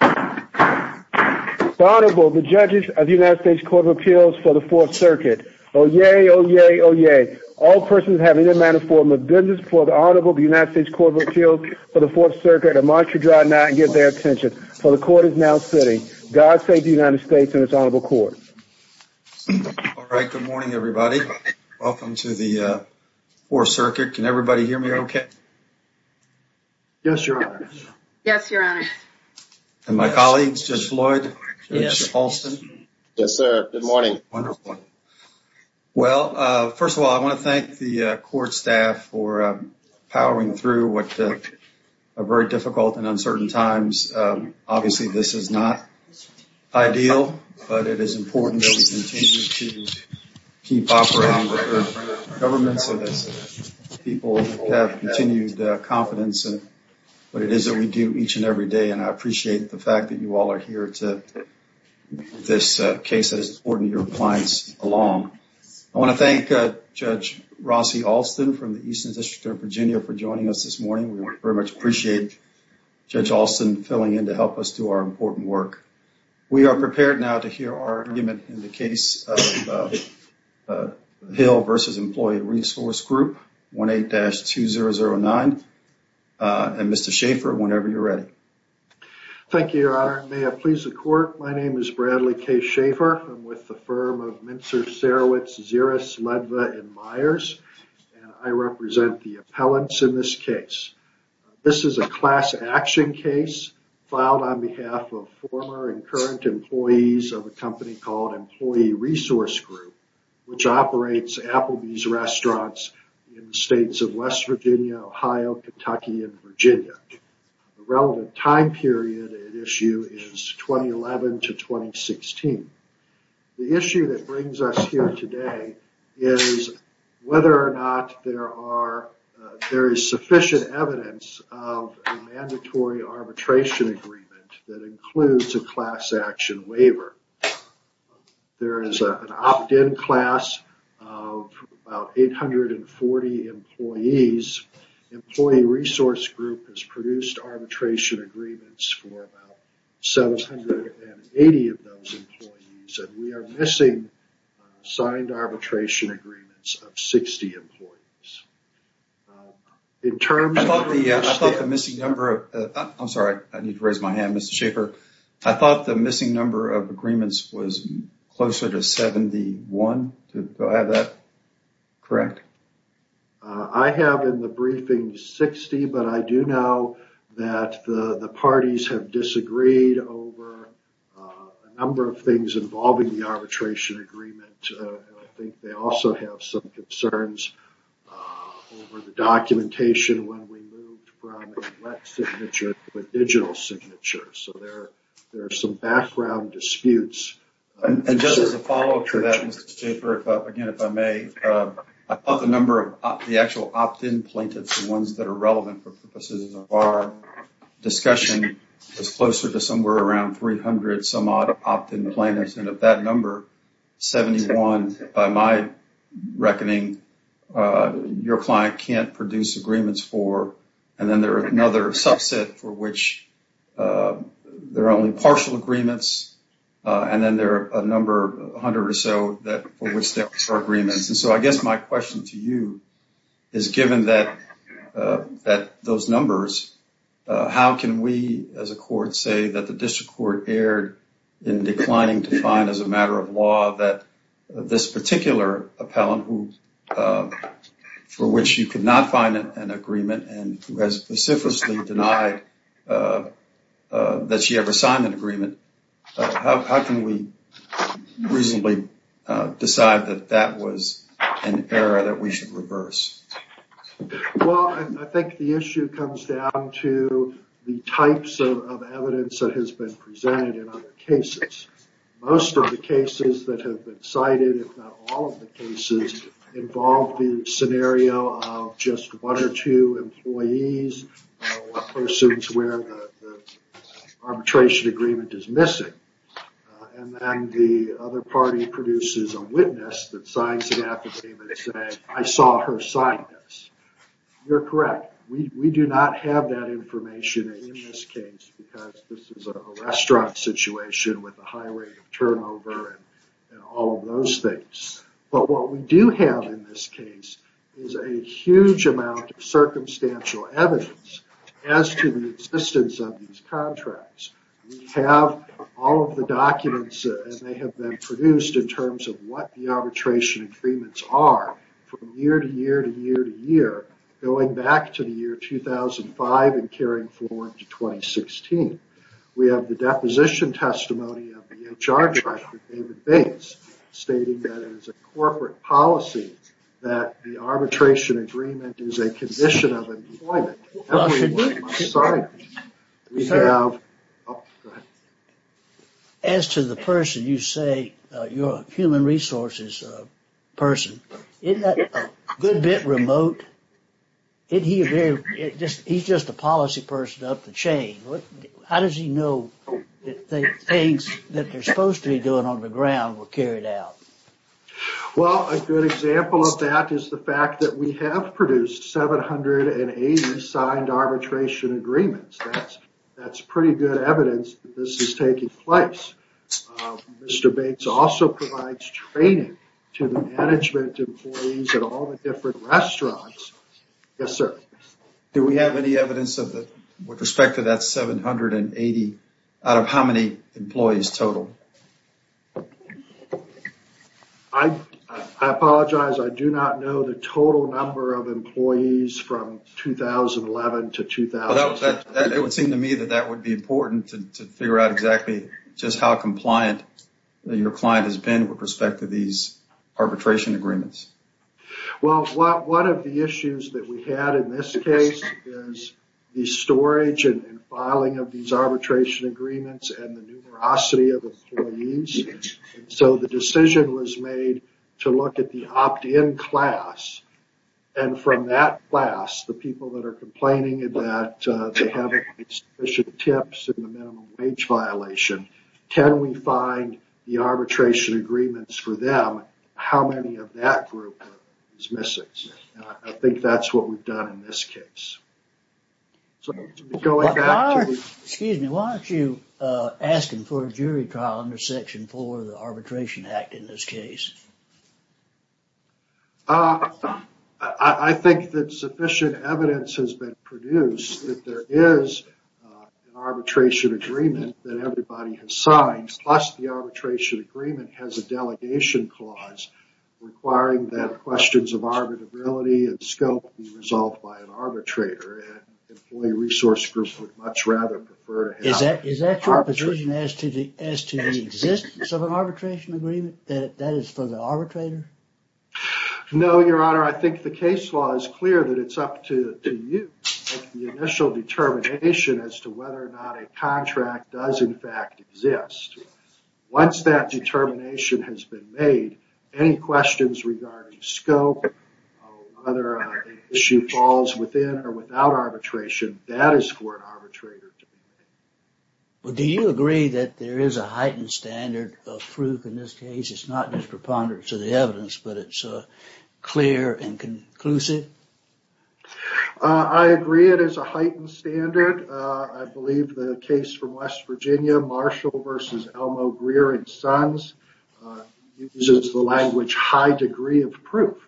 The Honorable, the Judges of the United States Court of Appeals for the Fourth Circuit. Oyez! Oyez! Oyez! All persons have in their manner, form, or business before the Honorable of the United States Court of Appeals for the Fourth Circuit are marked to draw not and give their attention. For the Court is now sitting. God save the United States and its Honorable Court. All right. Good morning, everybody. Welcome to the Fourth Circuit. Can everybody hear me okay? Yes, Your Honor. Yes, Your Honor. And my colleagues, Judge Floyd. Yes. Judge Halston. Yes, sir. Good morning. Wonderful. Well, first of all, I want to thank the Court staff for powering through what are very difficult and uncertain times. Obviously, this is not ideal, but it is important that we continue to keep operating with the government so that people have continued confidence in what it is that we do each and every day. And I appreciate the fact that you all are here to this case that is important to your clients along. I want to thank Judge Rossi Halston from the Eastern District of Virginia for joining us this morning. We very much appreciate Judge Halston filling in to help us do our important work. We are prepared now to hear our argument in the case of Hill v. Employee Resource Group 18-2009. And Mr. Schaffer, whenever you're ready. Thank you, Your Honor. May it please the Court. My name is Bradley K. Schaffer. I'm with the firm of Minster, Sarowitz, Zeres, Ledva, and Myers, and I represent the appellants in this case. This is a class action case filed on behalf of former and current employees of a company called Employee Resource Group, which operates Applebee's restaurants in the states of West Virginia, Ohio, Kentucky, and Virginia. The relevant time period at issue is 2011 to 2016. The issue that brings us here today is whether or not there is sufficient evidence of a mandatory arbitration agreement that includes a class action waiver. There is an opt-in class of about 840 employees. Employee Resource Group has produced arbitration agreements for about 780 of those employees, and we are missing signed arbitration agreements of 60 employees. I'm sorry, I need to raise my hand, Mr. Schaffer. I thought the missing number of agreements was closer to 71, is that correct? I have in the briefing 60, but I do know that the parties have disagreed over a number of things involving the arbitration agreement, and I think they also have some concerns over the documentation when we moved from a wet signature to a digital signature, so there are some background disputes. Just as a follow-up to that, Mr. Schaffer, again, if I may, I thought the number of the actual opt-in plaintiffs, the ones that are relevant for purposes of our discussion, is closer to somewhere around 300 some-odd opt-in plaintiffs, and if that number, 71, by my reckoning, your client can't produce agreements for, and then there is another subset for which there are only partial agreements, and then there are a number, 100 or so, for which there are agreements. I guess my question to you is, given those numbers, how can we as a court say that the district court erred in declining to find as a matter of law that this particular appellant for which you could not find an agreement and who has specifically denied that she ever signed an agreement, how can we reasonably decide that that was an error that we should reverse? Well, I think the issue comes down to the types of evidence that has been presented in other cases. Most of the cases that have been cited, if not all of the cases, involve the scenario of just one or two employees or persons where the arbitration agreement is missing, and then the other party produces a witness that signs an affidavit saying, I saw her sign this. You're correct. We do not have that information in this case because this is a restaurant situation with a high rate of turnover and all of those things. But what we do have in this case is a huge amount of circumstantial evidence as to the existence of these contracts. We have all of the documents, and they have been produced in terms of what the arbitration agreements are from year to year to year to year, going back to the year 2005 and carrying forward to 2016. We have the deposition testimony of the HR director, David Bates, stating that it is a corporate policy that the arbitration agreement is a condition of employment. As to the person you say, your human resources person, isn't that a good bit remote? He's just a policy person up the chain. How does he know that the things that they're supposed to be doing on the ground were carried out? Well, a good example of that is the fact that we have produced 780 signed arbitration agreements. That's pretty good evidence that this is taking place. Mr. Bates also provides training to the management employees at all the different restaurants. Do we have any evidence with respect to that 780 out of how many employees total? I apologize. I do not know the total number of employees from 2011 to 2016. It would seem to me that that would be important to figure out exactly just how compliant your client has been with respect to these arbitration agreements. One of the issues that we had in this case is the storage and filing of these arbitration agreements and the numerosity of employees. The decision was made to look at the opt-in class. From that class, the people that are complaining that they have insufficient tips in the minimum wage violation, can we find the arbitration agreements for them, how many of that group is missing? I think that's what we've done in this case. Excuse me. Why aren't you asking for a jury trial under Section 4 of the Arbitration Act in this case? I think that sufficient evidence has been produced that there is an arbitration agreement that everybody has signed. Plus, the arbitration agreement has a delegation clause requiring that questions of arbitrability and scope be resolved by an arbitrator. An employee resource group would much rather prefer to have an arbitrator. Is that your position as to the existence of an arbitration agreement, that it's for the arbitrator? No, Your Honor. I think the case law is clear that it's up to you to make the initial determination as to whether or not a contract does, in fact, exist. Once that determination has been made, any questions regarding scope or whether an issue falls within or without arbitration, that is for an arbitrator to make. Do you agree that there is a heightened standard of proof in this case? It's not just preponderance of the evidence, but it's clear and conclusive? I agree it is a heightened standard. I believe the case from West Virginia, Marshall v. Elmo, Greer & Sons, uses the language high degree of proof.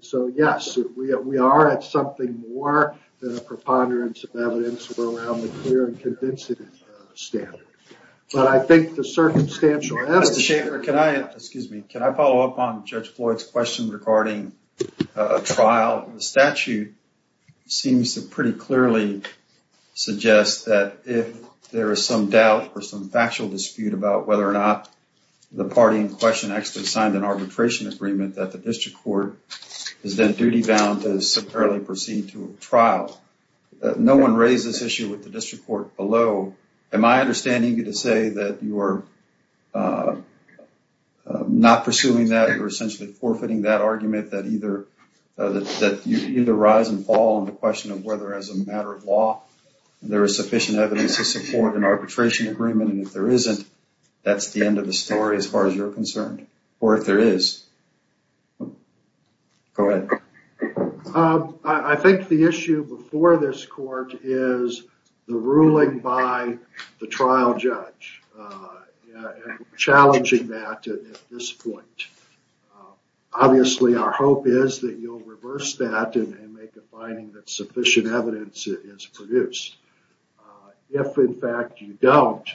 So, yes, we are at something more than a preponderance of evidence. We're around the clear and convincing standard. But I think the circumstantial evidence... Mr. Schaffer, can I follow up on Judge Floyd's question regarding a trial? The statute seems to pretty clearly suggest that if there is some doubt or some factual dispute about whether or not the party in question actually signed an arbitration agreement that the district court is then duty bound to simply proceed to a trial. No one raised this issue with the district court below. Am I understanding you to say that you are not pursuing that? You're essentially forfeiting that argument that you either rise and fall on the question of whether as a matter of law there is sufficient evidence to support an arbitration agreement and if there isn't, that's the end of the story as far as you're concerned. Or if there is. Go ahead. I think the issue before this court is the ruling by the trial judge. Challenging that at this point. Obviously, our hope is that you'll reverse that and make a finding that sufficient evidence is produced. If, in fact, you don't,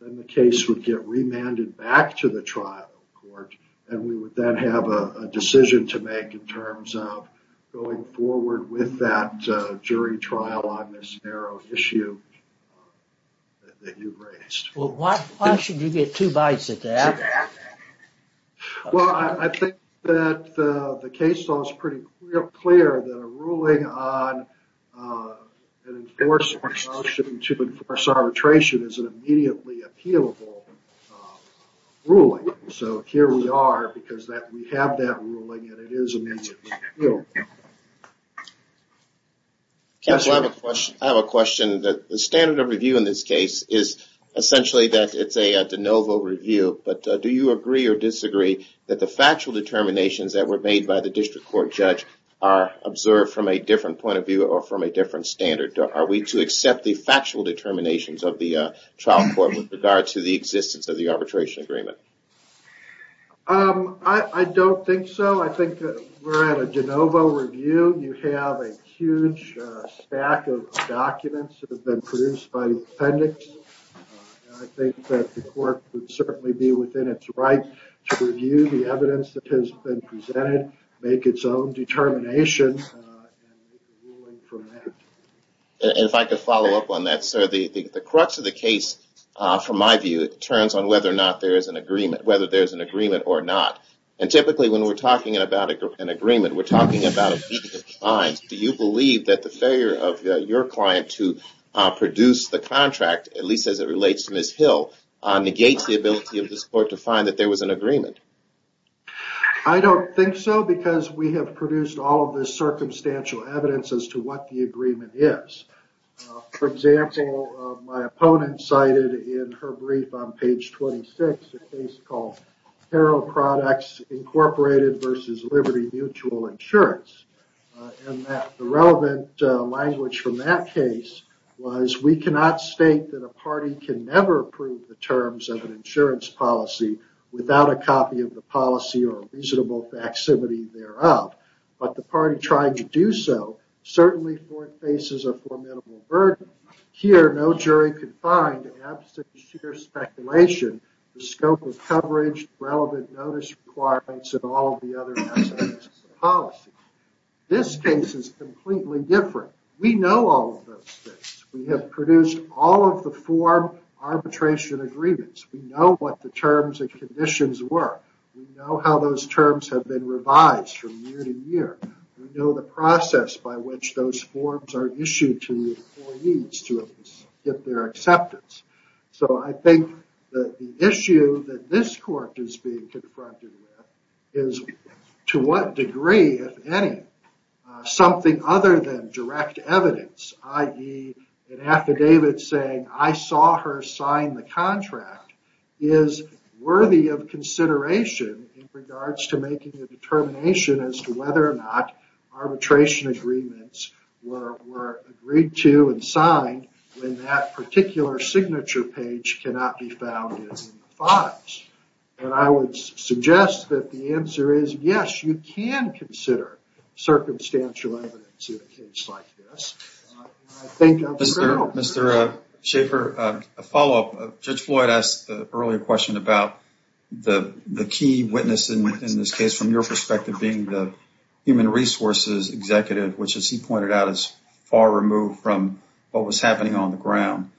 then the case would get remanded back to the trial court and we would then have a decision to make in terms of going forward with that jury trial on this narrow issue that you raised. Well, why should you get two bites at that? Well, I think that the case law is pretty clear that a ruling on an enforcement motion to enforce arbitration is an immediately appealable ruling. So here we are because we have that ruling and it is an immediate appeal. Counsel, I have a question. The standard of review in this case is essentially that it's a de novo review. But do you agree or disagree that the factual determinations that were made by the district court judge are observed from a different point of view or from a different standard? Are we to accept the factual determinations of the trial court with regard to the existence of the arbitration agreement? I don't think so. I think that we're at a de novo review. You have a huge stack of documents that have been produced by the appendix. I think that the court would certainly be within its right to review the evidence that has been presented, make its own determination, and make a ruling from that. If I could follow up on that, sir, the crux of the case, from my view, turns on whether or not there is an agreement, whether there's an agreement or not. And typically when we're talking about an agreement, we're talking about a meeting of clients. Do you believe that the failure of your client to produce the contract, at least as it relates to Ms. Hill, negates the ability of this court to find that there was an agreement? I don't think so because we have produced all of this circumstantial evidence as to what the agreement is. For example, my opponent cited in her brief on page 26 a case called Hero Products Incorporated versus Liberty Mutual Insurance. And the relevant language from that case was, we cannot state that a party can never approve the terms of an insurance policy without a copy of the policy or a reasonable facsimile thereof. But the party trying to do so certainly faces a formidable burden. Here, no jury could find, absent sheer speculation, the scope of coverage, relevant notice requirements, and all of the other aspects of the policy. This case is completely different. We know all of those things. We have produced all of the four arbitration agreements. We know what the terms and conditions were. We know how those terms have been revised from year to year. We know the process by which those forms are issued to the employees to get their acceptance. So I think that the issue that this court is being confronted with is to what degree, if any, something other than direct evidence, i.e. an affidavit saying, I saw her sign the determination in regards to making a determination as to whether or not arbitration agreements were agreed to and signed when that particular signature page cannot be found in the fines. And I would suggest that the answer is yes, you can consider circumstantial evidence in a case like this. Mr. Schaffer, a follow-up. Judge Floyd asked the earlier question about the key witness in this case, from your perspective, being the Human Resources Executive, which, as he pointed out, is far removed from what was happening on the ground.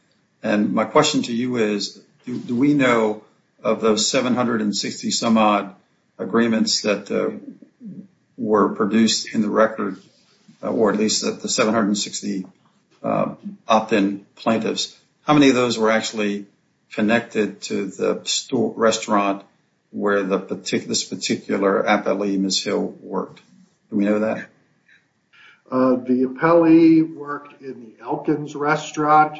And my question to you is, do we know of those 760-some-odd agreements that were produced in the record, or at least the 760 opt-in plaintiffs? How many of those were actually connected to the restaurant where this particular appellee, Ms. Hill, worked? Do we know that? The appellee worked in the Elkins restaurant.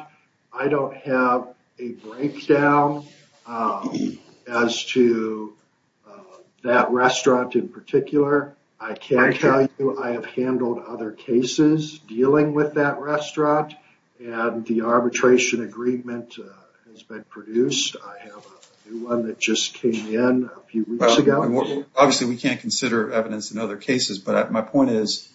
I don't have a breakdown as to that restaurant in particular. I can tell you I have handled other cases dealing with that restaurant, and the arbitration agreement has been produced. I have a new one that just came in a few weeks ago. Obviously, we can't consider evidence in other cases, but my point is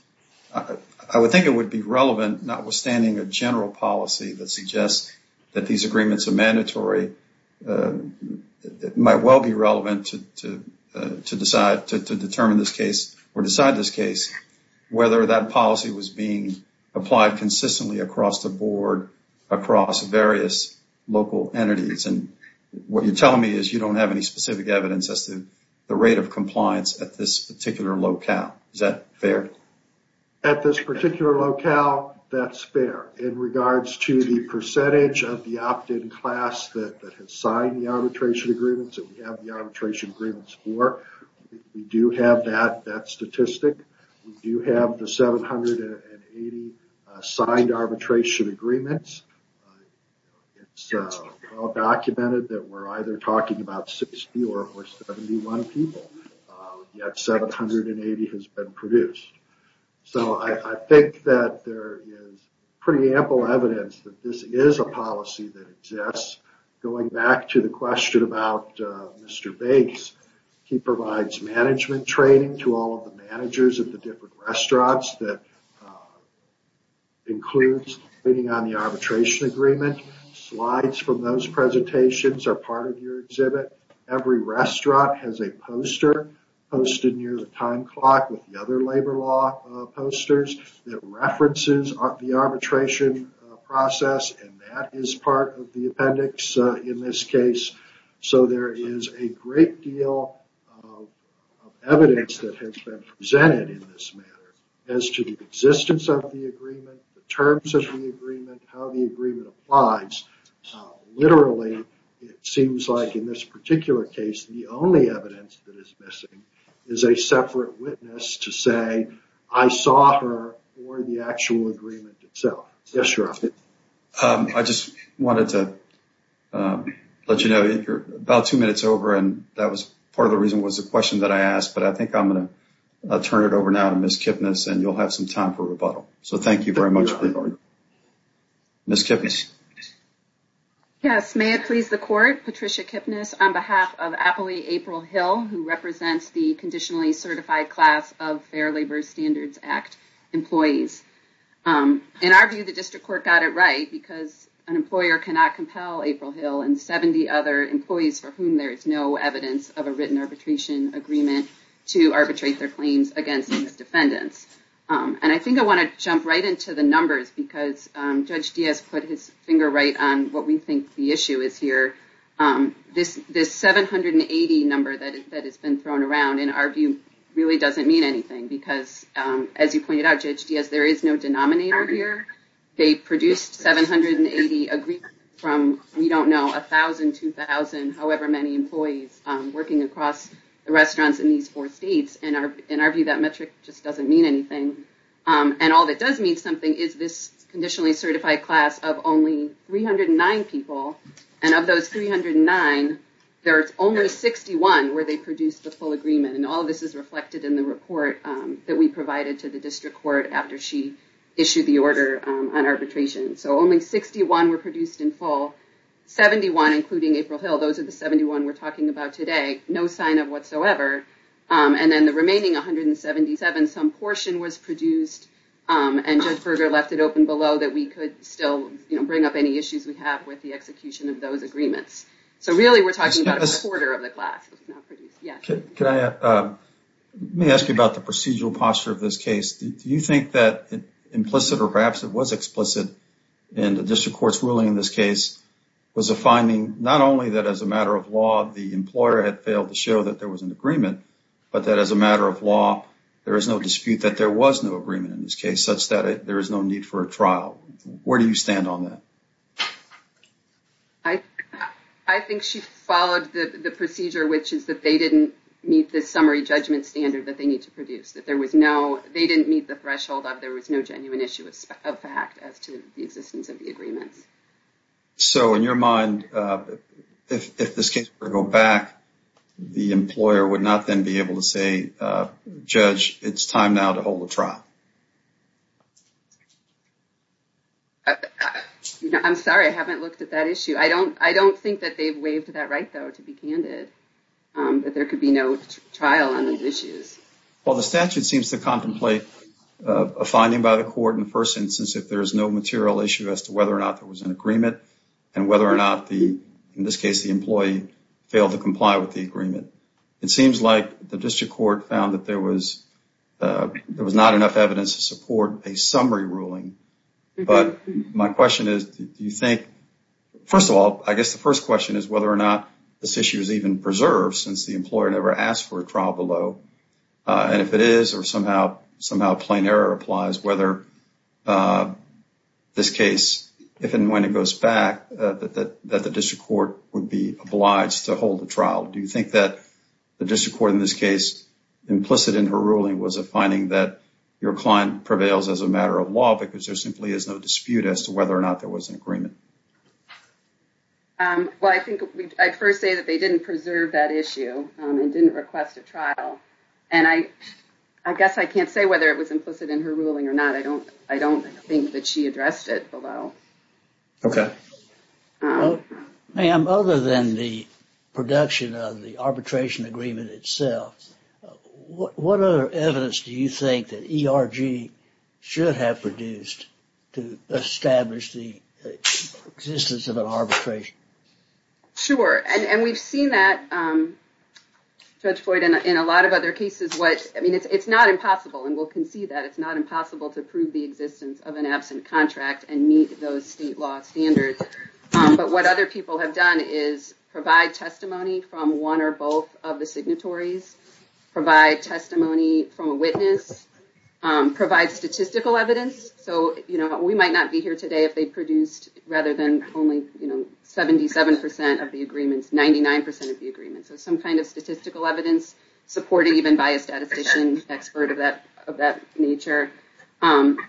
I would think it would be relevant, notwithstanding a general policy that suggests that these agreements are mandatory, it might well be relevant to decide, to determine this case or decide this case, whether that policy was being applied consistently across the board, across various local entities. And what you're telling me is you don't have any specific evidence as to the rate of compliance at this particular locale. Is that fair? At this particular locale, that's fair. In regards to the percentage of the opt-in class that has signed the arbitration agreements, that we have the arbitration agreements for, we do have that statistic. We do have the 780 signed arbitration agreements. It's all documented that we're either talking about 60 or 71 people, yet 780 has been produced. So I think that there is pretty ample evidence that this is a policy that exists. Going back to the question about Mr. Bates, he provides management training to all of the managers at the different restaurants that includes waiting on the arbitration agreement. Slides from those presentations are part of your exhibit. Every restaurant has a poster posted near the time clock with the other labor law posters that references the arbitration process, and that is part of the appendix in this case. So there is a great deal of evidence that has been presented in this manner as to the existence of the agreement, the terms of the agreement, how the agreement applies. Literally, it seems like in this particular case, the only evidence that is missing is a separate witness to say, I saw her for the actual agreement itself. Yes, Your Honor. I just wanted to let you know, you're about two minutes over, and that was part of the reason was the question that I asked, but I think I'm going to turn it over now to Ms. Kipnis, and you'll have some time for rebuttal. So thank you very much for your time. Ms. Kipnis. Yes, may it please the Court. Patricia Kipnis on behalf of Appley April Hill, who represents the conditionally certified class of Fair Labor Standards Act employees. In our view, the district court got it right because an employer cannot compel April Hill and 70 other employees for whom there is no evidence of a written arbitration agreement to arbitrate their claims against defendants. And I think I want to jump right into the numbers, because Judge Diaz put his finger right on what we think the issue is here. This 780 number that has been thrown around, in our view, really doesn't mean anything, because as you pointed out, Judge Diaz, there is no denominator here. They produced 780 agreements from, we don't know, 1,000, 2,000, however many employees, working across the restaurants in these four states. In our view, that metric just doesn't mean anything. And all that does mean something is this conditionally certified class of only 309 people, and of those 309, there's only 61 where they produced the full agreement. And all this is reflected in the report that we provided to the district court after she issued the order on arbitration. So only 61 were produced in full. 71, including April Hill, those are the 71 we're talking about today. No sign of whatsoever. And then the remaining 177, some portion was produced, and Judge Berger left it open below that we could still bring up any issues we have with the execution of those agreements. So really, we're talking about a quarter of the class. Can I ask you about the procedural posture of this case? Do you think that implicit, or perhaps it was explicit in the district court's ruling in this case, was a finding not only that as a matter of law, the employer had failed to show that there was an agreement, but that as a matter of law, there is no dispute that there was no agreement in this case, such that there is no need for a trial. Where do you stand on that? I think she followed the procedure, which is that they didn't meet the summary judgment standard that they need to produce, that they didn't meet the threshold of there was no genuine issue of fact as to the existence of the agreements. So in your mind, if this case were to go back, the employer would not then be able to say, Judge, it's time now to hold a trial. I'm sorry, I haven't looked at that issue. I don't think that they've waived that right, though, to be candid, that there could be no trial on these issues. Well, the statute seems to contemplate a finding by the court in the first instance if there is no material issue as to whether or not there was an agreement and whether or not, in this case, the employee failed to comply with the agreement. It seems like the district court found that there was not enough evidence to support a summary ruling. But my question is, do you think, first of all, I guess the first question is whether or not this issue is even preserved since the employer never asked for a trial below. And if it is or somehow plain error applies, whether this case, if and when it goes back, that the district court would be obliged to hold the trial. Do you think that the district court in this case, implicit in her ruling, was a finding that your client prevails as a matter of law because there simply is no dispute as to whether or not there was an agreement? Well, I think I'd first say that they didn't preserve that issue and didn't request a trial. And I guess I can't say whether it was implicit in her ruling or not. I don't I don't think that she addressed it below. OK. Ma'am, other than the production of the arbitration agreement itself, what other evidence do you think that ERG should have produced to establish the existence of an arbitration? Sure. And we've seen that, Judge Floyd, in a lot of other cases. What I mean, it's not impossible and we'll concede that it's not impossible to prove the existence of an absent contract and meet those state law standards. But what other people have done is provide testimony from one or both of the signatories, provide testimony from a witness, provide statistical evidence. So, you know, we might not be here today if they produced rather than only, you know, 77 percent of the agreements, 99 percent of the agreements. So some kind of statistical evidence supported even by a statistician expert of that of that nature.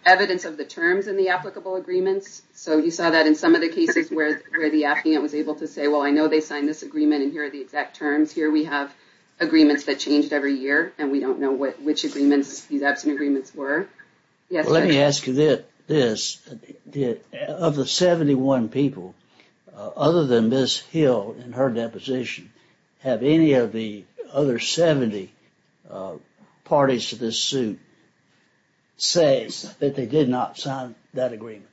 Evidence of the terms in the applicable agreements. So you saw that in some of the cases where the applicant was able to say, well, I know they signed this agreement and here are the exact terms here. We have agreements that changed every year and we don't know which agreements these absent agreements were. Let me ask you this. Of the 71 people other than Miss Hill in her deposition, have any of the other 70 parties to this suit say that they did not sign that agreement?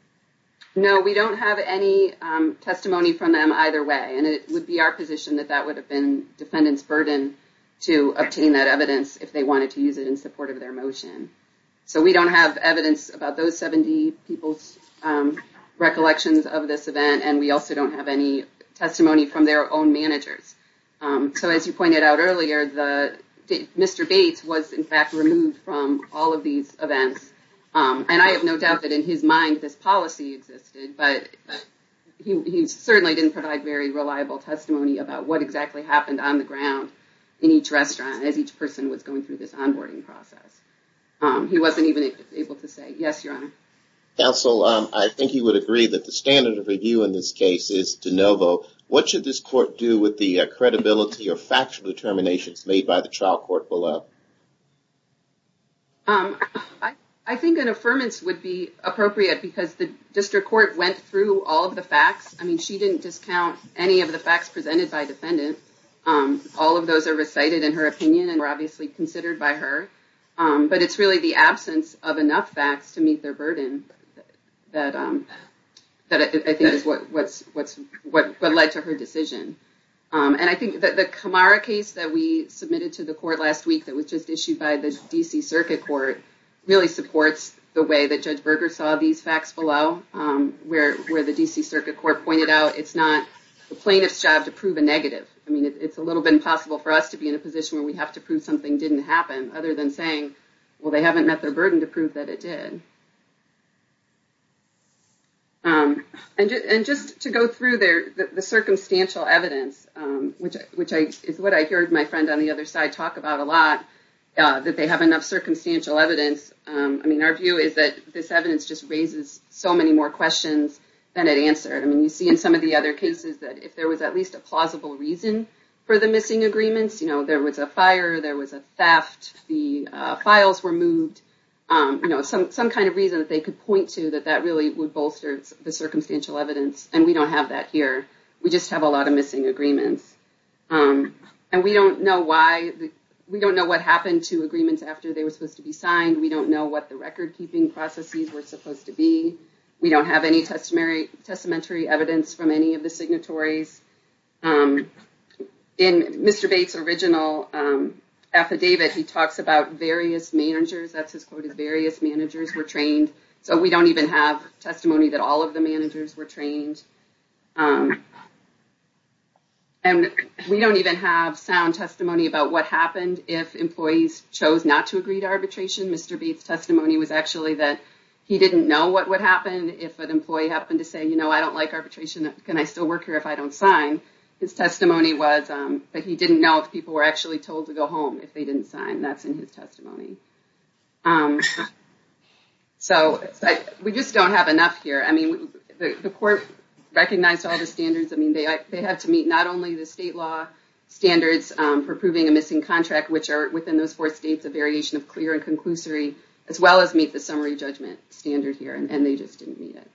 No, we don't have any testimony from them either way. And it would be our position that that would have been defendant's burden to obtain that evidence if they wanted to use it in support of their motion. So we don't have evidence about those 70 people's recollections of this event. And we also don't have any testimony from their own managers. So, as you pointed out earlier, Mr. Bates was, in fact, removed from all of these events. And I have no doubt that in his mind this policy existed, but he certainly didn't provide very reliable testimony about what exactly happened on the ground in each restaurant as each person was going through this onboarding process. He wasn't even able to say. Yes, Your Honor. Counsel, I think you would agree that the standard of review in this case is de novo. What should this court do with the credibility or factual determinations made by the trial court below? I think an affirmance would be appropriate because the district court went through all of the facts. I mean, she didn't discount any of the facts presented by defendant. All of those are recited in her opinion and were obviously considered by her. But it's really the absence of enough facts to meet their burden that I think is what led to her decision. And I think that the Kamara case that we submitted to the court last week that was just issued by the D.C. Circuit Court really supports the way that Judge Berger saw these facts below. Where the D.C. Circuit Court pointed out it's not the plaintiff's job to prove a negative. I mean, it's a little bit impossible for us to be in a position where we have to prove something didn't happen other than saying, well, they haven't met their burden to prove that it did. And just to go through the circumstantial evidence, which is what I heard my friend on the other side talk about a lot, that they have enough circumstantial evidence. I mean, our view is that this evidence just raises so many more questions than it answers. I mean, you see in some of the other cases that if there was at least a plausible reason for the missing agreements, you know, there was a fire, there was a theft, the files were moved. You know, some kind of reason that they could point to that that really would bolster the circumstantial evidence. And we don't have that here. We just have a lot of missing agreements. And we don't know why. We don't know what happened to agreements after they were supposed to be signed. We don't know what the record keeping processes were supposed to be. We don't have any testamentary evidence from any of the signatories. In Mr. Bates original affidavit, he talks about various managers. That's his quote is various managers were trained. So we don't even have testimony that all of the managers were trained. And we don't even have sound testimony about what happened if employees chose not to agree to arbitration. Mr. Bates testimony was actually that he didn't know what would happen if an employee happened to say, you know, I don't like arbitration. Can I still work here if I don't sign? His testimony was that he didn't know if people were actually told to go home if they didn't sign. That's in his testimony. So we just don't have enough here. I mean, the court recognized all the standards. I mean, they had to meet not only the state law standards for proving a missing contract, which are within those four states, a variation of clear and conclusory, as well as meet the summary judgment standard here. And they just didn't meet it.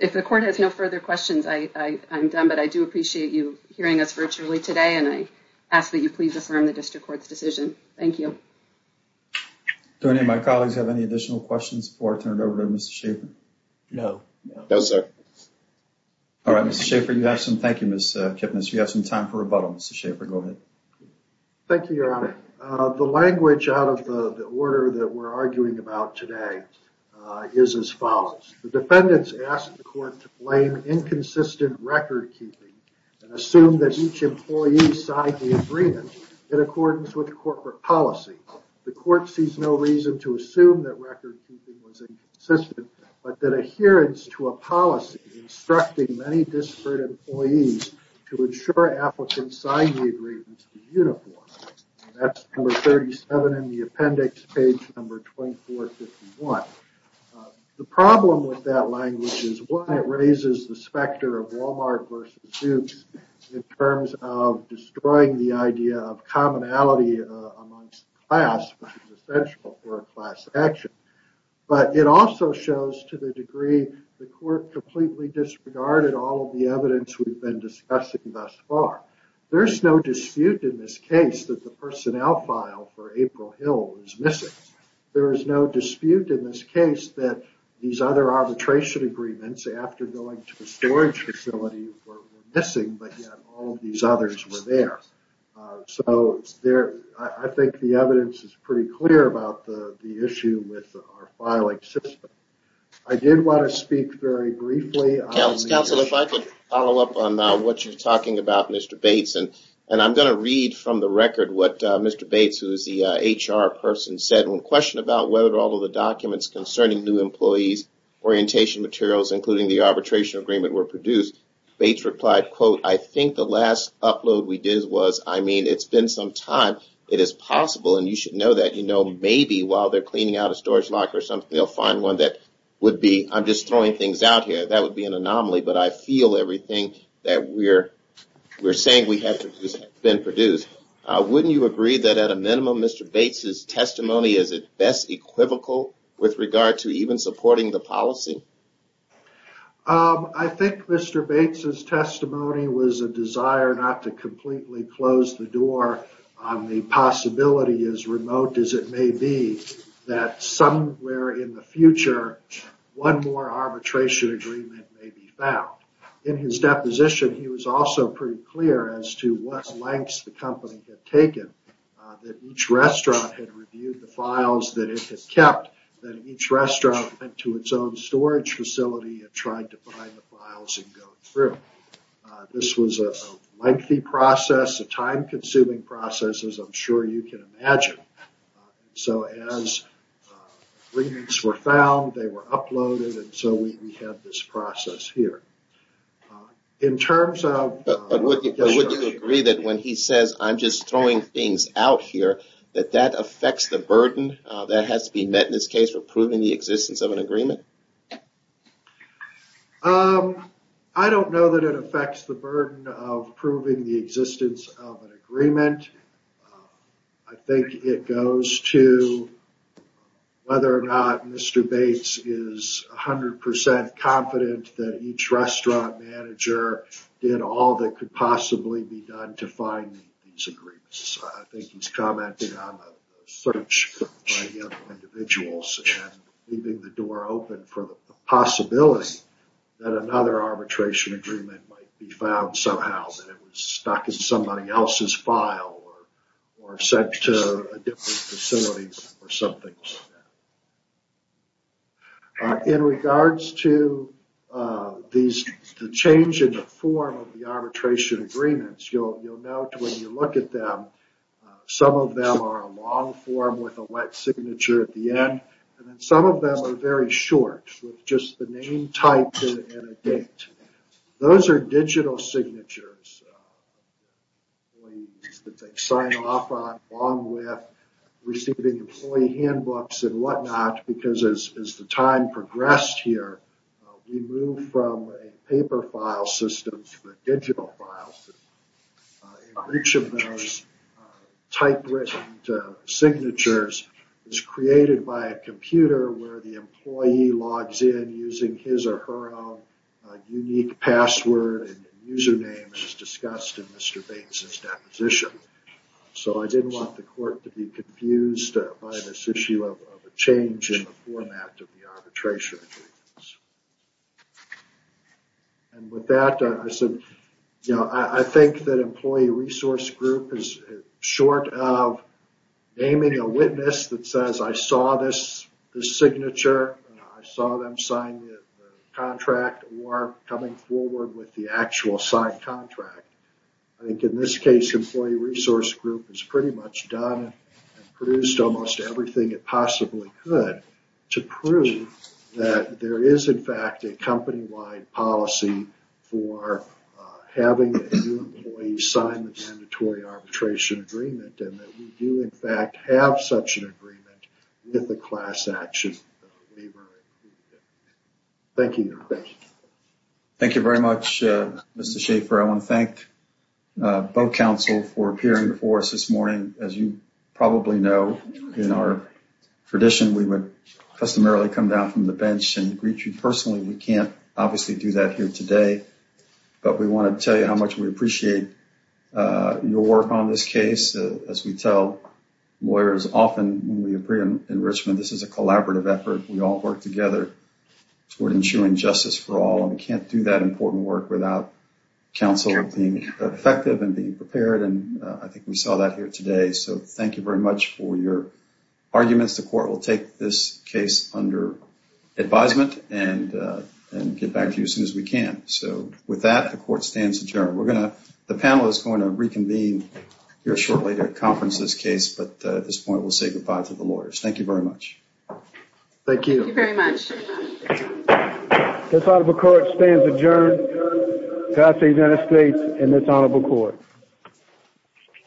If the court has no further questions, I am done. But I do appreciate you hearing us virtually today. And I ask that you please affirm the district court's decision. Thank you. Do any of my colleagues have any additional questions for turn it over to Mr. Schaefer? No. All right, Mr. Schaefer, you have some. Thank you, Mr. Kipnis. You have some time for rebuttal. Mr. Schaefer, go ahead. Thank you, Your Honor. The language out of the order that we're arguing about today is as follows. The defendants asked the court to blame inconsistent record keeping and assume that each employee signed the agreement in accordance with corporate policy. The court sees no reason to assume that record keeping was inconsistent, but that adherence to a policy instructing many disparate employees to ensure applicants signed the agreement in uniform. That's number 37 in the appendix, page number 2451. The problem with that language is, one, it raises the specter of Wal-Mart versus Dukes in terms of destroying the idea of commonality amongst the class, which is essential for a class action. But it also shows to the degree the court completely disregarded all of the evidence we've been discussing thus far. There's no dispute in this case that the personnel file for April Hill is missing. There is no dispute in this case that these other arbitration agreements after going to the storage facility were missing, but yet all of these others were there. So I think the evidence is pretty clear about the issue with our filing system. I did want to speak very briefly on the issue. Counsel, if I could follow up on what you're talking about, Mr. Bates, and I'm going to read from the record what Mr. Bates, who is the HR person, said. When questioned about whether all of the documents concerning new employees' orientation materials, including the arbitration agreement, were produced, Bates replied, quote, I think the last upload we did was, I mean, it's been some time. It is possible, and you should know that, you know, maybe while they're cleaning out a storage locker or something, they'll find one that would be, I'm just throwing things out here. That would be an anomaly. But I feel everything that we're saying we have been produced. Wouldn't you agree that at a minimum, Mr. Bates' testimony is at best equivocal with regard to even supporting the policy? I think Mr. Bates' testimony was a desire not to completely close the door on the possibility, as remote as it may be, that somewhere in the future, one more arbitration agreement may be found. In his deposition, he was also pretty clear as to what lengths the company had taken, that each restaurant had reviewed the files that it had kept, that each restaurant went to its own storage facility and tried to find the files and go through. This was a lengthy process, a time-consuming process, as I'm sure you can imagine. So as agreements were found, they were uploaded, and so we had this process here. In terms of... But wouldn't you agree that when he says, I'm just throwing things out here, that that affects the burden that has to be met in this case for proving the existence of an agreement? I don't know that it affects the burden of proving the existence of an agreement. I think it goes to whether or not Mr. Bates is 100% confident that each restaurant manager did all that could possibly be done to find these agreements. I think it's open for the possibility that another arbitration agreement might be found somehow, that it was stuck in somebody else's file or sent to a different facility or something like that. In regards to the change in the form of the arbitration agreements, you'll note when you look at them, some of them are a long form with a wet signature at the end, and then some of them are very short, with just the name, type, and a date. Those are digital signatures that they sign off on, along with receiving employee handbooks and whatnot, because as the time progressed here, we moved from a paper file system to a digital file system. Each of those typewritten signatures is created by a computer where the employee logs in using his or her own unique password and username as discussed in Mr. Bates' deposition. So I didn't want the court to be confused by this issue of a change in the format of the arbitration agreements. With that, I think that employee resource group is short of naming a witness that says, I saw this signature, I saw them sign the contract, or coming forward with the actual signed contract. I think in this case, employee resource group has pretty much done and produced almost everything it possibly could to prove that there is in fact a company-wide policy for having a new employee sign the mandatory arbitration agreement, and that we do in fact have such an agreement with the class action Thank you. Thank you very much, Mr. Schaefer. I want to thank both counsel for appearing before us this morning. As you probably know, in our tradition, we would customarily come down from the bench and greet you personally. We can't obviously do that here today, but we want to tell you how much we appreciate your work on this case. As we tell lawyers often when we appear in Richmond, this is a collaborative effort. We all work together toward ensuring justice for all, and we can't do that important work without counsel being effective and being prepared, and I think we saw that here today. So thank you very much for your arguments. The court will take this case under advisement and get back to you as soon as we can. So with that, the court stands adjourned. The panel is going to reconvene shortly to conference this case, but at this point we'll say goodbye to the lawyers. Thank you very much.